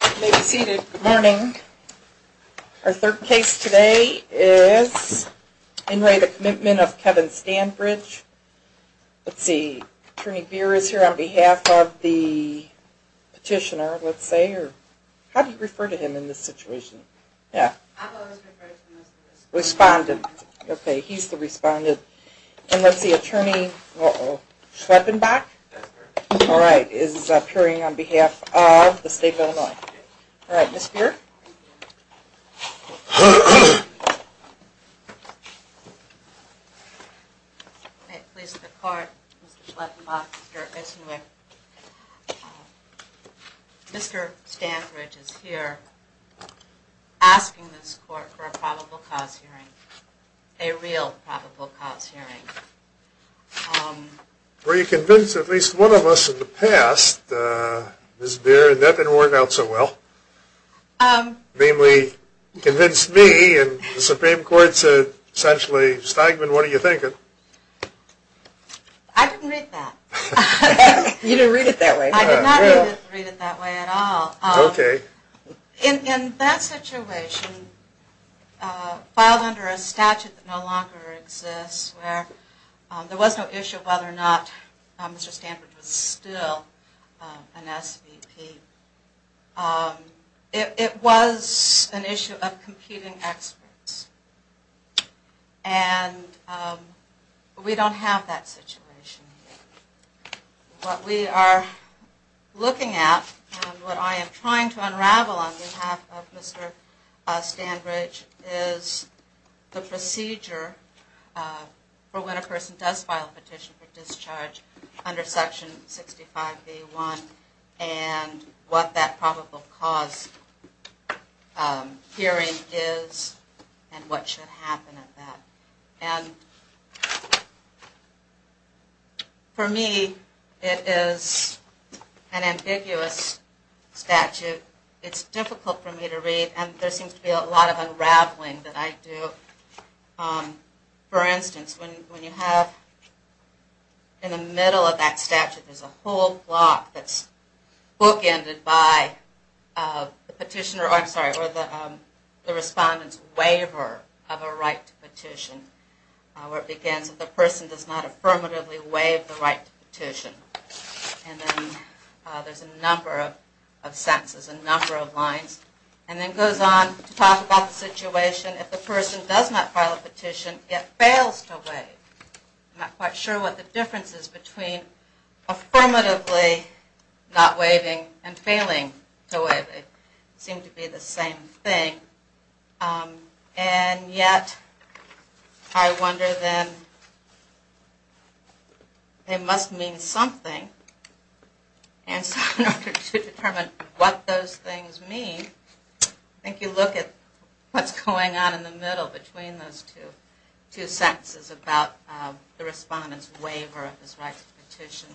Good morning. Our third case today is Enray the Commitment of Kevin Stanbridge. Let's see, Attorney Beer is here on behalf of the petitioner, let's say. How do you refer to him in this situation? Respondent. Okay, he's the respondent. And let's see, Attorney Schweppenbach is appearing on behalf of the state of Illinois. All right, Ms. Beer? May it please the court, Mr. Schweppenbach, Mr. Esenwick, Mr. Stanbridge is here asking this court for a probable cause hearing, a real probable cause hearing. Were you convinced, at least one of us in the past, Ms. Beer, that that didn't work out so well? Namely, convince me and the Supreme Court said, essentially, Steigman, what are you thinking? I didn't read that. You didn't read it that way. I did not read it that way at all. Okay. In that situation, filed under a statute that no longer exists, where there was no issue of whether or not Mr. Stanbridge was still an SVP, it was an issue of competing experts. And we don't have that situation. What we are looking at and what I am trying to unravel on behalf of Mr. Stanbridge is the procedure for when a person does file a petition for discharge under Section 65B1 and what that probable cause hearing is and what should happen at that. And for me, it is an ambiguous statute. It's difficult for me to read and there seems to be a lot of unraveling that I do. For instance, when you have in the middle of that statute, there's a whole block that's bookended by the petitioner, or I'm sorry, the respondent's waiver of a right to petition, where it begins that the person does not affirmatively waive the right to petition. And then there's a number of sentences, a number of lines. And then it goes on to talk about the situation if the person does not file a petition, yet fails to waive. I'm not quite sure what the difference is between affirmatively not waiving and failing to waive. They seem to be the same thing. And yet I wonder then, they must mean something. And so in order to determine what those things mean, I think you look at what's going on in the middle between those two sentences about the respondent's waiver of his right to petition.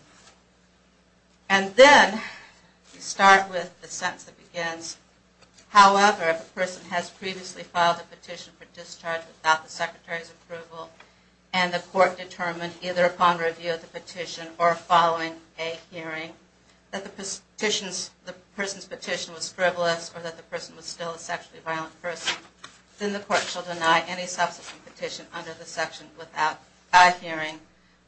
And then you start with the sentence that begins, however, if a person has previously filed a petition for discharge without the secretary's approval, and the court determined either upon review of the petition or following a hearing that the person's petition was frivolous or that the person was still a sexually violent person, then the court shall deny any subsequent petition under the section without a hearing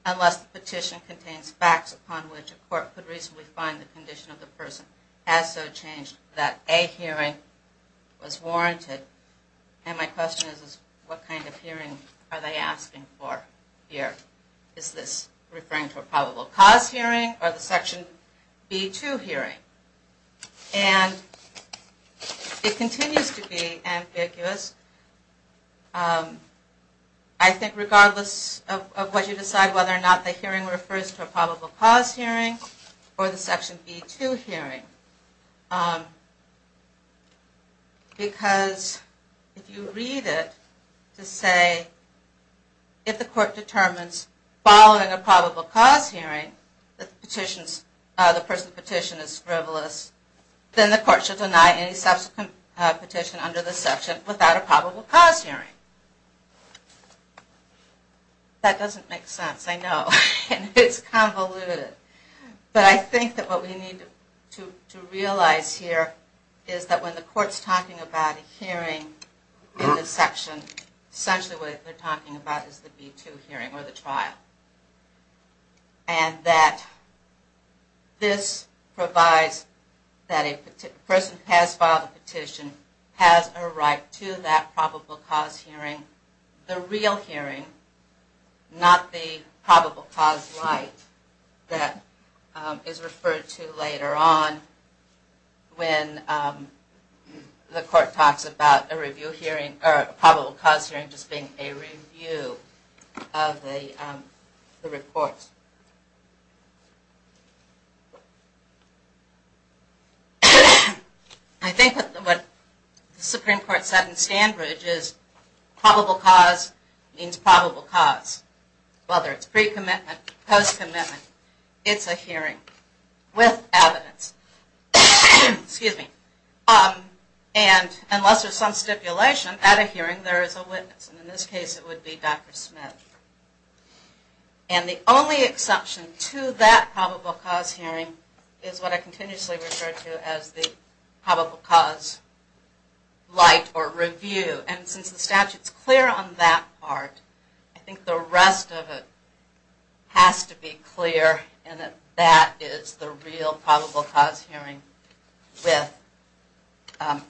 unless the petition contains facts upon which a court could reasonably find the condition of the person as so changed that a hearing was warranted. And my question is, what kind of hearing are they asking for here? Is this referring to a probable cause hearing or the section B-2 hearing? And it continues to be ambiguous. I think regardless of what you decide, whether or not the hearing refers to a probable cause hearing or the section B-2 hearing. Because if you read it to say, if the court determines following a probable cause hearing that the person's petition is frivolous, then the court shall deny any subsequent petition under the section without a probable cause hearing. That doesn't make sense, I know. It's convoluted. But I think that what we need to realize here is that when the court's talking about a hearing in the section, essentially what they're talking about is the B-2 hearing or the trial. And that this provides that a person who has filed a petition has a right to that probable cause hearing. The real hearing, not the probable cause light that is referred to later on when the court talks about a probable cause hearing and just being a review of the report. I think what the Supreme Court said in Stanbridge is probable cause means probable cause. Whether it's pre-commitment, post-commitment, it's a hearing with evidence. And unless there's some stipulation, at a hearing there is a witness. And in this case it would be Dr. Smith. And the only exception to that probable cause hearing is what I continuously refer to as the probable cause light or review. And since the statute's clear on that part, I think the rest of it has to be clear and that that is the real probable cause hearing with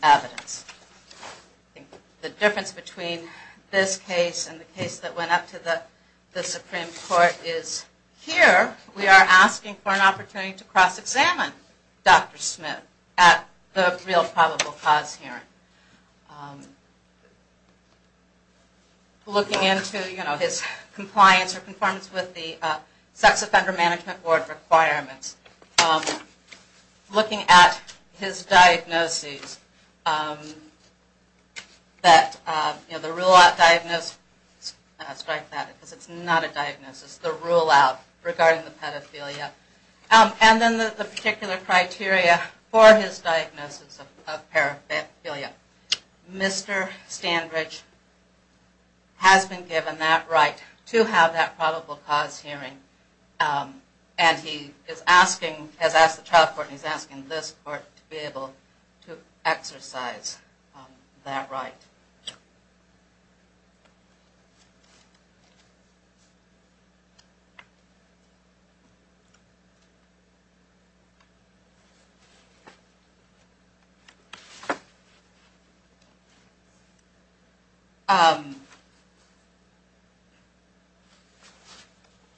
evidence. I think the difference between this case and the case that went up to the Supreme Court is here we are asking for an opportunity to cross-examine Dr. Smith at the real probable cause hearing. Looking into his compliance or conformance with the Sex Offender Management Board requirements. Looking at his diagnosis. The rule-out diagnosis. Strike that because it's not a diagnosis. The rule-out regarding the pedophilia. And then the particular criteria for his diagnosis of paraphilia. Mr. Stanbridge has been given that right to have that probable cause hearing. And he has asked the child court and he's asking this court to be able to exercise that right.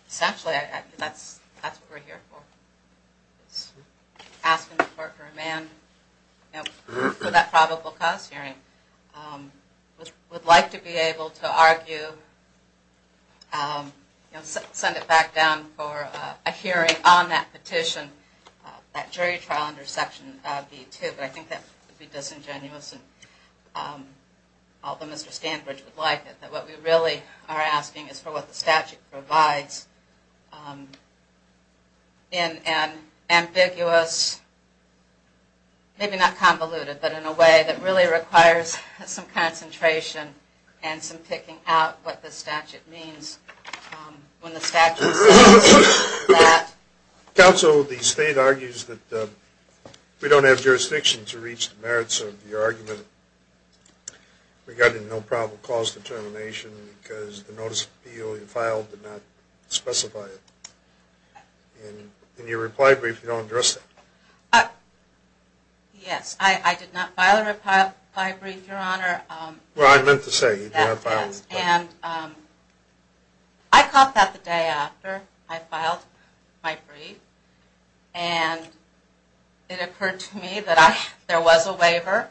Essentially, that's what we're here for. Asking the court for a man for that probable cause hearing. We'd like to be able to argue, send it back down for a hearing on that petition, that jury trial under Section B2, but I think that would be disingenuous although Mr. Stanbridge would like it. What we really are asking is for what the statute provides in an ambiguous, maybe not convoluted, but in a way that really requires some concentration and some picking out what the statute means. When the statute says that... Counsel, the state argues that we don't have jurisdiction to reach the merits of your argument regarding no probable cause determination because the notice of appeal you filed did not specify it. In your reply brief, you don't address that. Yes, I did not file a reply brief, Your Honor. Well, I meant to say you did not file a reply brief. And I caught that the day after I filed my brief. And it occurred to me that there was a waiver.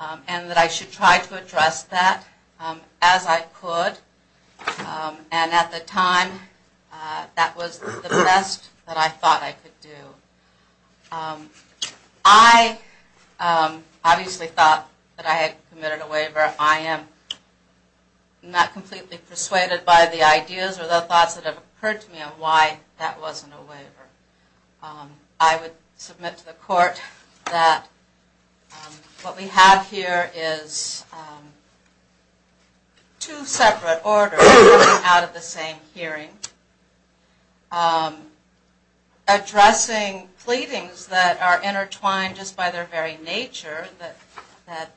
And that I should try to address that as I could. And at the time, that was the best that I thought I could do. I obviously thought that I had committed a waiver. I am not completely persuaded by the ideas or the thoughts that have occurred to me on why that wasn't a waiver. I would submit to the court that what we have here is two separate orders coming out of the same hearing. Addressing pleadings that are intertwined just by their very nature, that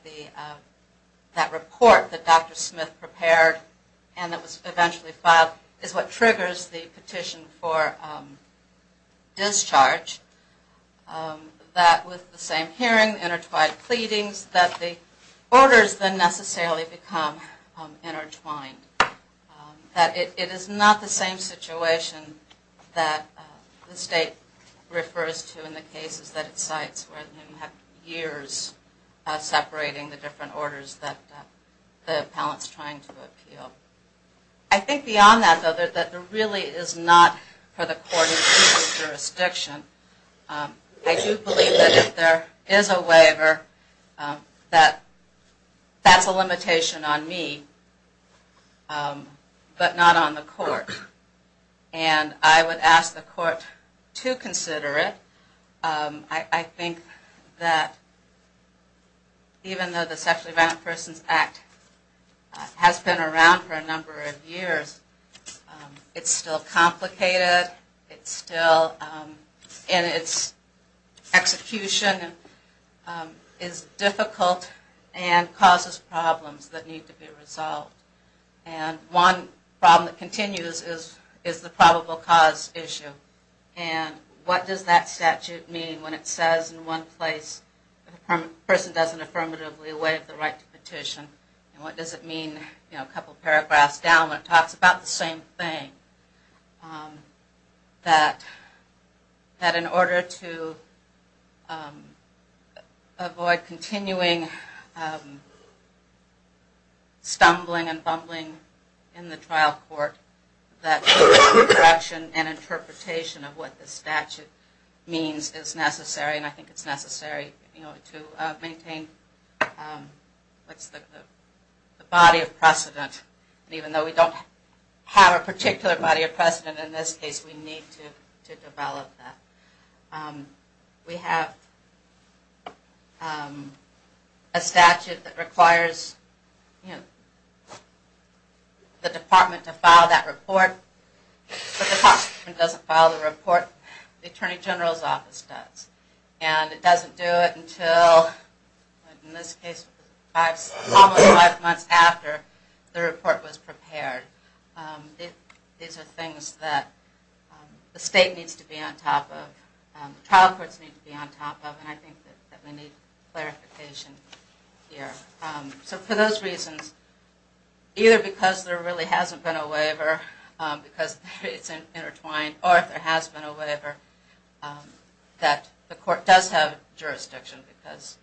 report that Dr. Smith prepared and that was eventually filed is what triggers the petition for discharge. That with the same hearing, intertwined pleadings, that the orders then necessarily become intertwined. That it is not the same situation that the state refers to in the cases that it cites where you have years separating the different orders that the appellant's trying to appeal. I think beyond that, though, that there really is not for the court in each jurisdiction. I do believe that if there is a waiver, that that's a limitation on me, but not on the court. And I would ask the court to consider it. I think that even though the Sexually Violent Persons Act has been around for a number of years, it's still complicated, and its execution is difficult and causes problems that need to be resolved. And one problem that continues is the probable cause issue. And what does that statute mean when it says in one place, if a person doesn't affirmatively waive the right to petition, and what does it mean a couple paragraphs down when it talks about the same thing? That in order to avoid continuing stumbling and fumbling in the trial court, that direction and interpretation of what the statute means is necessary, and I think it's necessary to maintain the body of precedent. Even though we don't have a particular body of precedent in this case, we need to develop that. We have a statute that requires the department to file that report, but the department doesn't file the report. The Attorney General's Office does. And it doesn't do it until, in this case, almost five months after the report was prepared. These are things that the state needs to be on top of, the trial courts need to be on top of, and I think that we need clarification here. So for those reasons, either because there really hasn't been a waiver, because it's intertwined, or if there has been a waiver, that the court does have jurisdiction, because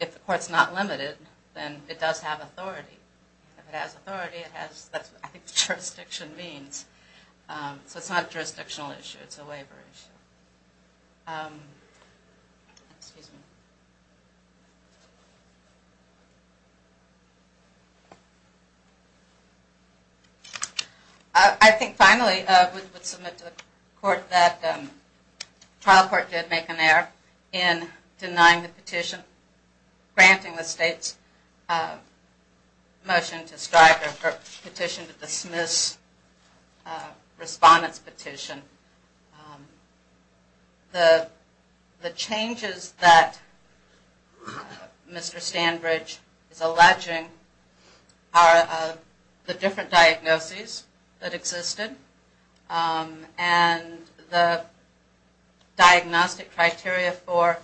if the court's not limited, then it does have authority. If it has authority, that's what I think jurisdiction means. So it's not a jurisdictional issue, it's a waiver issue. I think, finally, I would submit to the court that the trial court did make an error in denying the petition, granting the state's motion to strike, or petition to dismiss, respondent's petition. The changes that Mr. Stanbridge is alleging are the different diagnoses that existed, and the diagnostic criteria for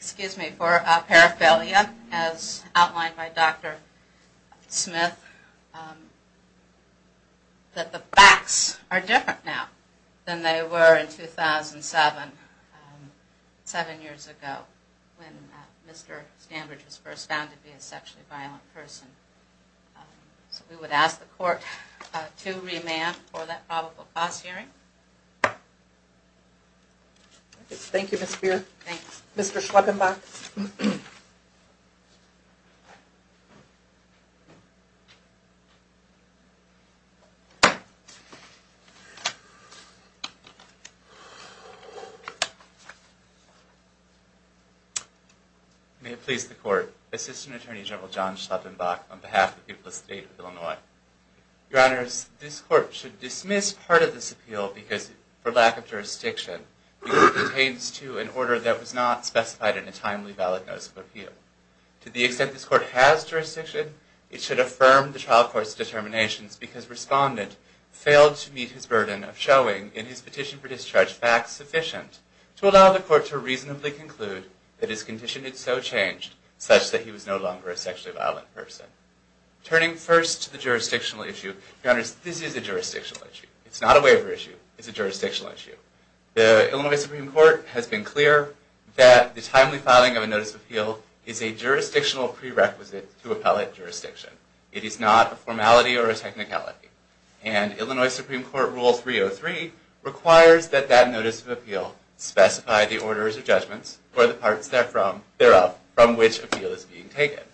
paraphilia, as outlined by Dr. Smith, that the facts are different now than they were in 2007, seven years ago, when Mr. Stanbridge was first found to be a sexually violent person. So we would ask the court to remand for that probable cause hearing. Thank you, Ms. Spear. Mr. Schleppenbach. May it please the court, Assistant Attorney General John Schleppenbach, on behalf of the people of the state of Illinois. Your Honors, this court should dismiss part of this appeal for lack of jurisdiction, because it pertains to an order that was not specified in a timely, valid notice of appeal. To the extent this court has jurisdiction, it should affirm the trial court's determinations, because Respondent failed to meet his burden of showing, in his petition for discharge, facts sufficient to allow the court to reasonably conclude that his condition had so changed, such that he was no longer a sexually violent person. Turning first to the jurisdictional issue, Your Honors, this is a jurisdictional issue. It's not a waiver issue. It's a jurisdictional issue. The Illinois Supreme Court has been clear that the timely filing of a notice of appeal is a jurisdictional prerequisite to appellate jurisdiction. It is not a formality or a technicality. And Illinois Supreme Court Rule 303 requires that that notice of appeal specify the orders or judgments, or the parts thereof, from which appeal is being taken.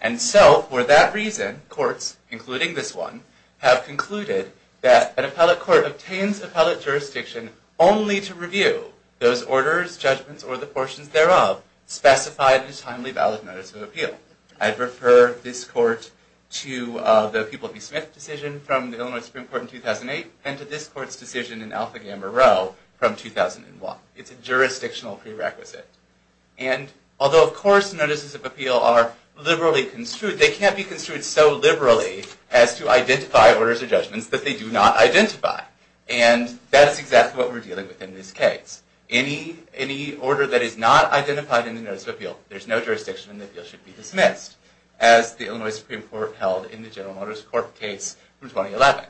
And so, for that reason, courts, including this one, have concluded that an appellate court obtains appellate jurisdiction only to review those orders, judgments, or the portions thereof specified in a timely, valid notice of appeal. I'd refer this court to the Pupil v. Smith decision from the Illinois Supreme Court in 2008, and to this court's decision in Alpha Gamma Rho from 2001. It's a jurisdictional prerequisite. And although, of course, notices of appeal are liberally construed, they can't be construed so liberally as to identify orders or judgments that they do not identify. And that is exactly what we're dealing with in this case. Any order that is not identified in the notice of appeal, there's no jurisdiction, and the appeal should be dismissed, as the Illinois Supreme Court held in the General Motors Corp. case from 2011.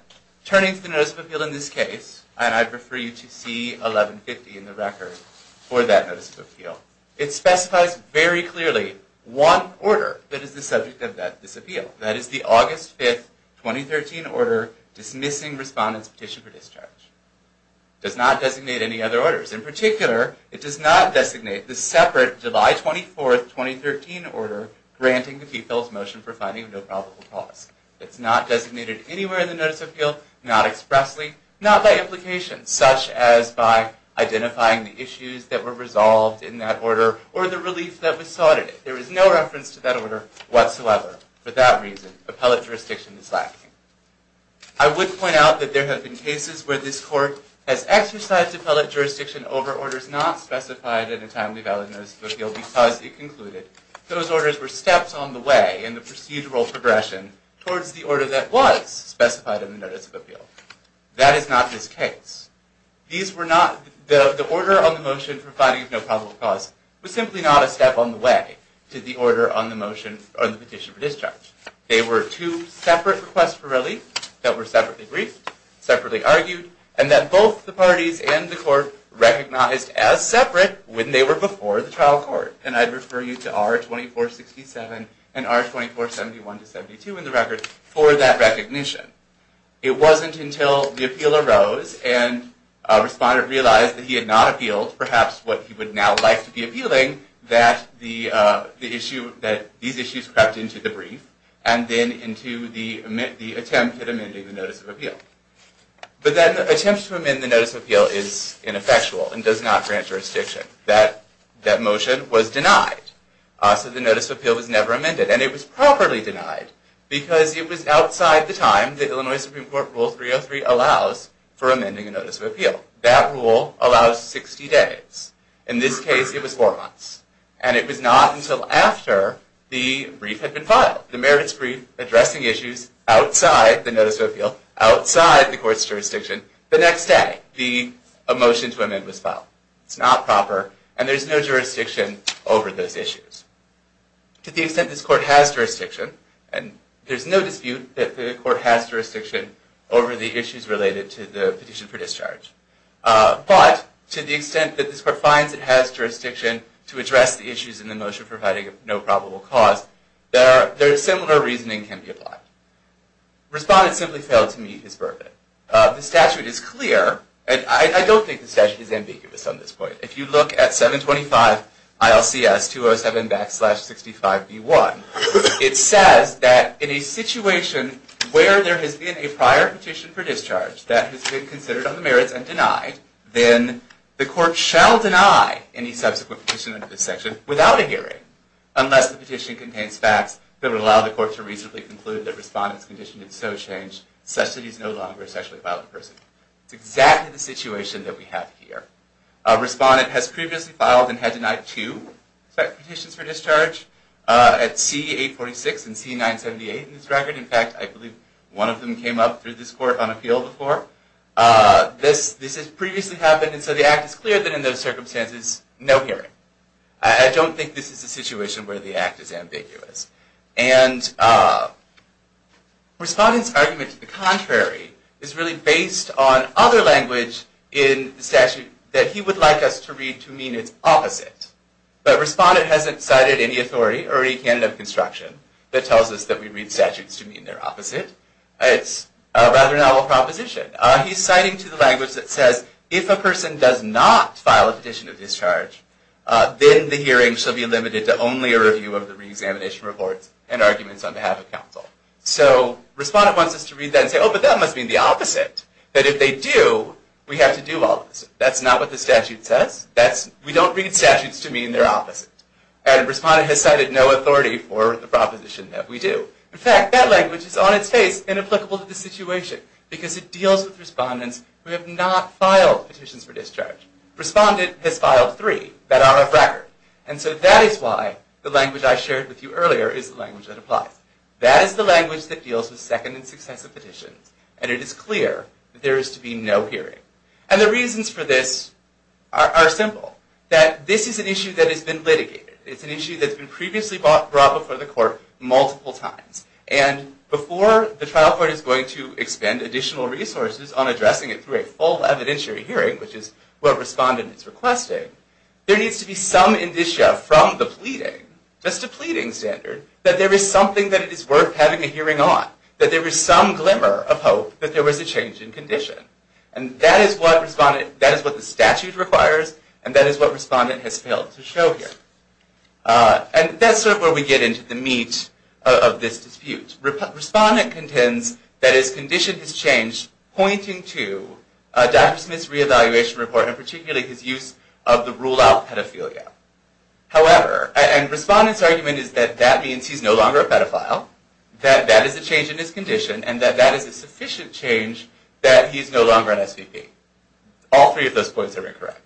Turning to the notice of appeal in this case, and I'd refer you to C. 1150 in the record for that notice of appeal, it specifies very clearly one order that is the subject of this appeal. That is the August 5, 2013 order Dismissing Respondent's Petition for Discharge. It does not designate any other orders. In particular, it does not designate the separate July 24, 2013 order Granting the People's Motion for Finding a No Probable Cause. It's not designated anywhere in the notice of appeal, not expressly, not by implication, such as by identifying the issues that were resolved in that order or the relief that was sought in it. There is no reference to that order whatsoever. For that reason, appellate jurisdiction is lacking. I would point out that there have been cases where this court has exercised appellate jurisdiction over orders not specified in a timely notice of appeal because it concluded those orders were steps on the way in the procedural progression towards the order that was specified in the notice of appeal. That is not this case. The order on the motion for finding a no probable cause was simply not a step on the way to the order on the petition for discharge. They were two separate requests for relief that were separately briefed, separately argued, and that both the parties and the court recognized as separate when they were before the trial court. And I'd refer you to R2467 and R2471-72 in the record for that recognition. It wasn't until the appeal arose and a respondent realized that he had not appealed perhaps what he would now like to be appealing that these issues crept into the brief and then into the attempt at amending the notice of appeal. But that attempt to amend the notice of appeal is ineffectual and does not grant jurisdiction. That motion was denied. So the notice of appeal was never amended. And it was properly denied because it was outside the time the Illinois Supreme Court Rule 303 allows for amending a notice of appeal. That rule allows 60 days. In this case, it was four months. And it was not until after the brief had been filed, the merits brief addressing issues outside the notice of appeal, outside the court's jurisdiction, the next day the motion to amend was filed. It's not proper. And there's no jurisdiction over those issues. To the extent this court has jurisdiction, and there's no dispute that the court has jurisdiction over the issues related to the petition for discharge, but to the extent that this court finds it has jurisdiction to address the issues in the motion for providing no probable cause, similar reasoning can be applied. Respondent simply failed to meet his verdict. The statute is clear. I don't think the statute is ambiguous on this point. If you look at 725 ILCS 207 backslash 65B1, it says that in a situation where there has been a prior petition for discharge that has been considered on the merits and denied, then the court shall deny any subsequent petition under this section without a hearing unless the petition contains facts that would allow the court to reasonably conclude that respondent's condition had so changed such that he's no longer a sexually violent person. It's exactly the situation that we have here. Respondent has previously filed and had denied two petitions for discharge, at C846 and C978 in this record. In fact, I believe one of them came up through this court on appeal before. This has previously happened, and so the act is clear that in those circumstances, no hearing. I don't think this is a situation where the act is ambiguous. And respondent's argument to the contrary is really based on other language in the statute that he would like us to read to mean it's opposite. But respondent hasn't cited any authority or any canon of construction that tells us that we read statutes to mean they're opposite. It's a rather novel proposition. He's citing to the language that says if a person does not file a petition of discharge, then the hearing shall be limited to only a review of the reexamination reports and arguments on behalf of counsel. So respondent wants us to read that and say, oh, but that must mean the opposite. That if they do, we have to do all this. That's not what the statute says. We don't read statutes to mean they're opposite. And respondent has cited no authority for the proposition that we do. In fact, that language is on its face, inapplicable to the situation, because it deals with respondents who have not filed petitions for discharge. Respondent has filed three that are off record. And so that is why the language I shared with you earlier is the language that applies. That is the language that deals with second and successive petitions. And it is clear that there is to be no hearing. And the reasons for this are simple. That this is an issue that has been litigated. It's an issue that's been previously brought before the court multiple times. And before the trial court is going to expend additional resources on addressing it through a full evidentiary hearing, which is what respondent is requesting, there needs to be some indicia from the pleading, just a pleading standard, that there is something that it is worth having a hearing on. That there is some glimmer of hope that there was a change in condition. And that is what the statute requires, and that is what respondent has failed to show here. And that's sort of where we get into the meat of this dispute. Respondent contends that his condition has changed, pointing to Dr. Smith's re-evaluation report, and particularly his use of the rule-out pedophilia. However, and respondent's argument is that that means he's no longer a pedophile, that that is a change in his condition, and that that is a sufficient change that he's no longer an SVP. All three of those points are incorrect.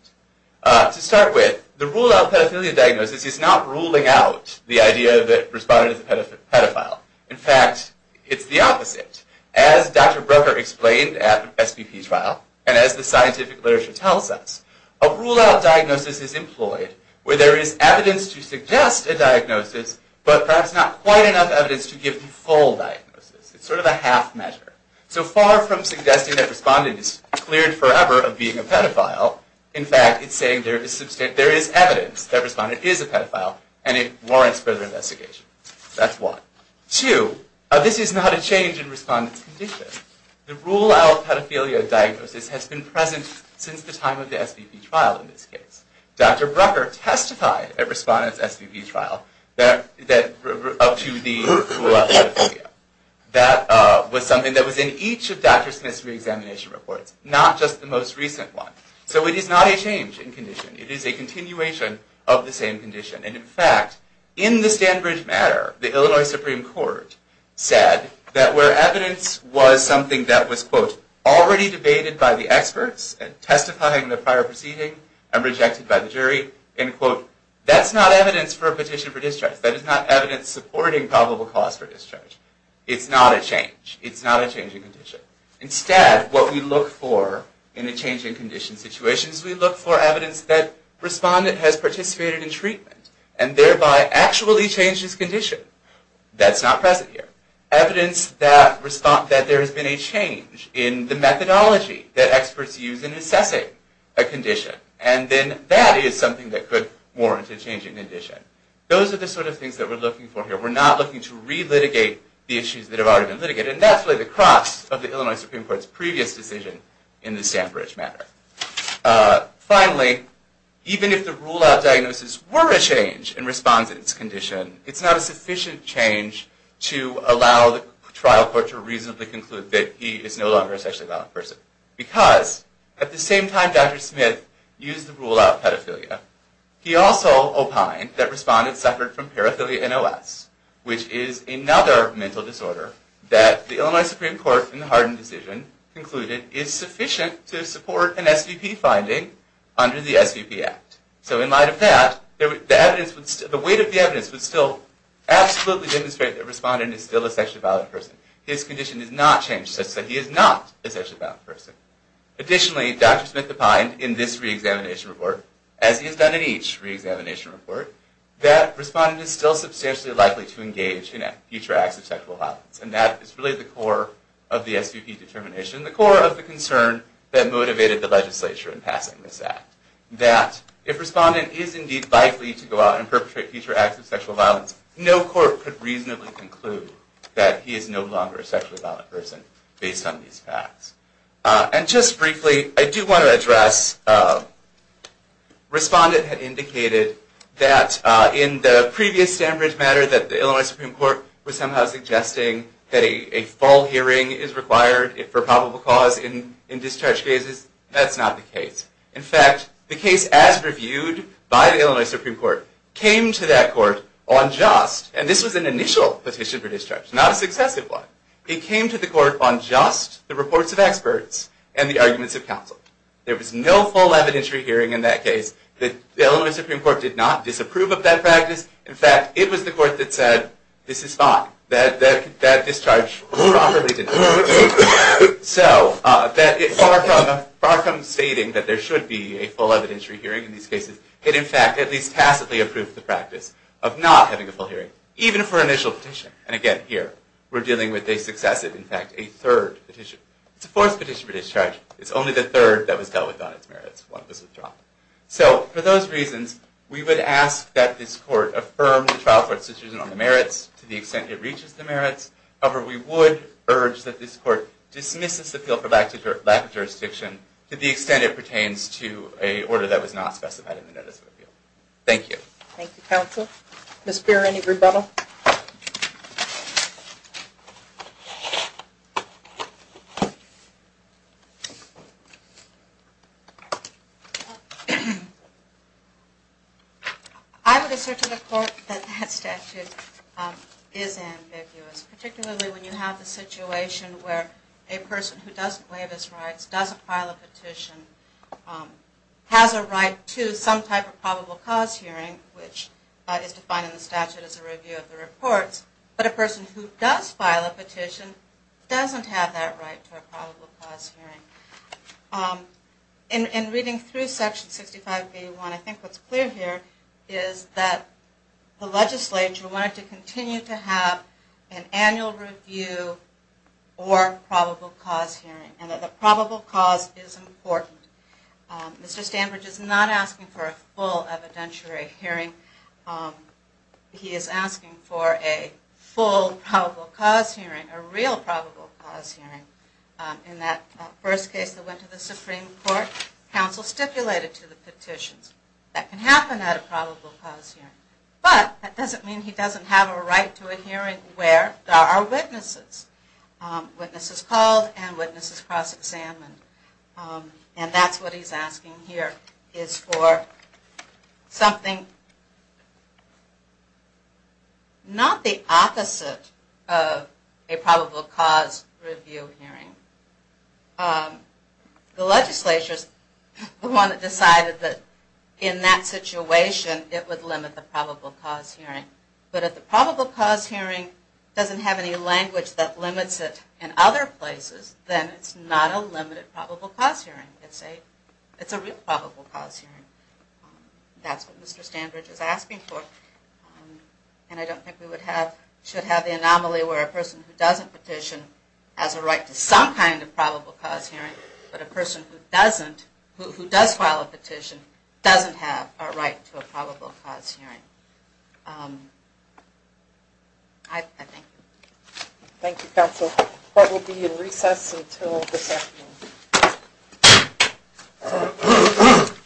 To start with, the rule-out pedophilia diagnosis is not ruling out the idea that respondent is a pedophile. In fact, it's the opposite. As Dr. Brooker explained at SVP trial, and as the scientific literature tells us, a rule-out diagnosis is employed where there is evidence to suggest a diagnosis, but perhaps not quite enough evidence to give the full diagnosis. It's sort of a half measure. So far from suggesting that respondent is cleared forever of being a pedophile, in fact, it's saying there is evidence that respondent is a pedophile, and it warrants further investigation. That's one. Two, this is not a change in respondent's condition. The rule-out pedophilia diagnosis has been present since the time of the SVP trial, in this case. Dr. Brooker testified at respondent's SVP trial that up to the rule-out pedophilia. That was something that was in each of Dr. Smith's reexamination reports, not just the most recent one. So it is not a change in condition. It is a continuation of the same condition. And in fact, in the Stanbridge matter, the Illinois Supreme Court said that where evidence was something that was, quote, already debated by the experts and testifying in the prior proceeding and rejected by the jury, end quote, that's not evidence for a petition for discharge. That is not evidence supporting probable cause for discharge. It's not a change. It's not a change in condition. Instead, what we look for in a change in condition situation is we look for evidence that respondent has participated in treatment and thereby actually changed his condition. That's not present here. Evidence that there has been a change in the methodology that experts use in assessing a condition. And then that is something that could warrant a change in condition. Those are the sort of things that we're looking for here. We're not looking to re-litigate the issues that have already been litigated. And that's really the cross of the Illinois Supreme Court's previous decision in the Stanbridge matter. Finally, even if the rule-out diagnosis were a change in respondent's condition, it's not a sufficient change to allow the trial court to reasonably conclude that he is no longer a sexually violent person. Because at the same time Dr. Smith used the rule-out pedophilia, he also opined that respondents suffered from paraphilia NOS, which is another mental disorder that the Illinois Supreme Court in the Hardin decision concluded is sufficient to support an SVP finding under the SVP Act. So in light of that, the weight of the evidence would still absolutely demonstrate that a respondent is still a sexually violent person. His condition has not changed such that he is not a sexually violent person. Additionally, Dr. Smith opined in this re-examination report, as he has done in each re-examination report, that respondent is still substantially likely to engage in future acts of sexual violence. And that is really the core of the SVP determination, the core of the concern that motivated the legislature in passing this act. That if respondent is indeed likely to go out and perpetrate future acts of sexual violence, no court could reasonably conclude that he is no longer a sexually violent person based on these facts. And just briefly, I do want to address, respondent had indicated that in the previous Stanbridge matter that the Illinois Supreme Court was somehow suggesting that a full hearing is required for probable cause in discharge cases. That's not the case. In fact, the case as reviewed by the Illinois Supreme Court came to that court on just, and this was an initial petition for discharge, not a successive one, it came to the court on just the reports of experts and the arguments of counsel. There was no full evidentiary hearing in that case. The Illinois Supreme Court did not disapprove of that practice. In fact, it was the court that said, this is fine. That discharge was properly conducted. So, it far comes stating that there should be a full evidentiary hearing in these cases. It in fact, at least tacitly approved the practice of not having a full hearing, even for an initial petition. And again, here, we're dealing with a successive, in fact, a third petition. It's a fourth petition for discharge. It's only the third that was dealt with on its merits. One was withdrawn. So, for those reasons, we would ask that this court affirm the trial court's decision on the merits to the extent it reaches the merits. However, we would urge that this court dismisses the appeal for lack of jurisdiction to the extent it pertains to a order that was not specified in the Notice of Appeal. Thank you. Thank you, counsel. Ms. Beer, any rebuttal? I would assert to the court that that statute is ambiguous, particularly when you have the situation where a person who doesn't waive his rights, doesn't file a petition, has a right to some type of probable cause hearing, which is defined in the statute as a review of the reports, but a person who does file a petition doesn't have that right to a probable cause hearing. In reading through Section 65B1, I think what's clear here is that the legislature wanted to continue to have an annual review or probable cause hearing, and that the probable cause is important. Mr. Stanbridge is not asking for a full evidentiary hearing. He is asking for a full probable cause hearing, a real probable cause hearing. In that first case that went to the Supreme Court, counsel stipulated to the petitions that can happen at a probable cause hearing. But that doesn't mean he doesn't have a right to a hearing where there are witnesses. Witnesses called and witnesses cross-examined. And that's what he's asking here, is for something not the opposite of a probable cause review hearing. The legislature is the one that decided that in that situation it would limit the probable cause hearing. But if the probable cause hearing doesn't have any language that limits it in other places, then it's not a limited probable cause hearing. It's a real probable cause hearing. That's what Mr. Stanbridge is asking for. And I don't think we should have the anomaly where a person who doesn't petition has a right to some kind of probable cause hearing, but a person who does file a petition doesn't have a right to a probable cause hearing. Thank you, counsel. Court will be in recess until this afternoon.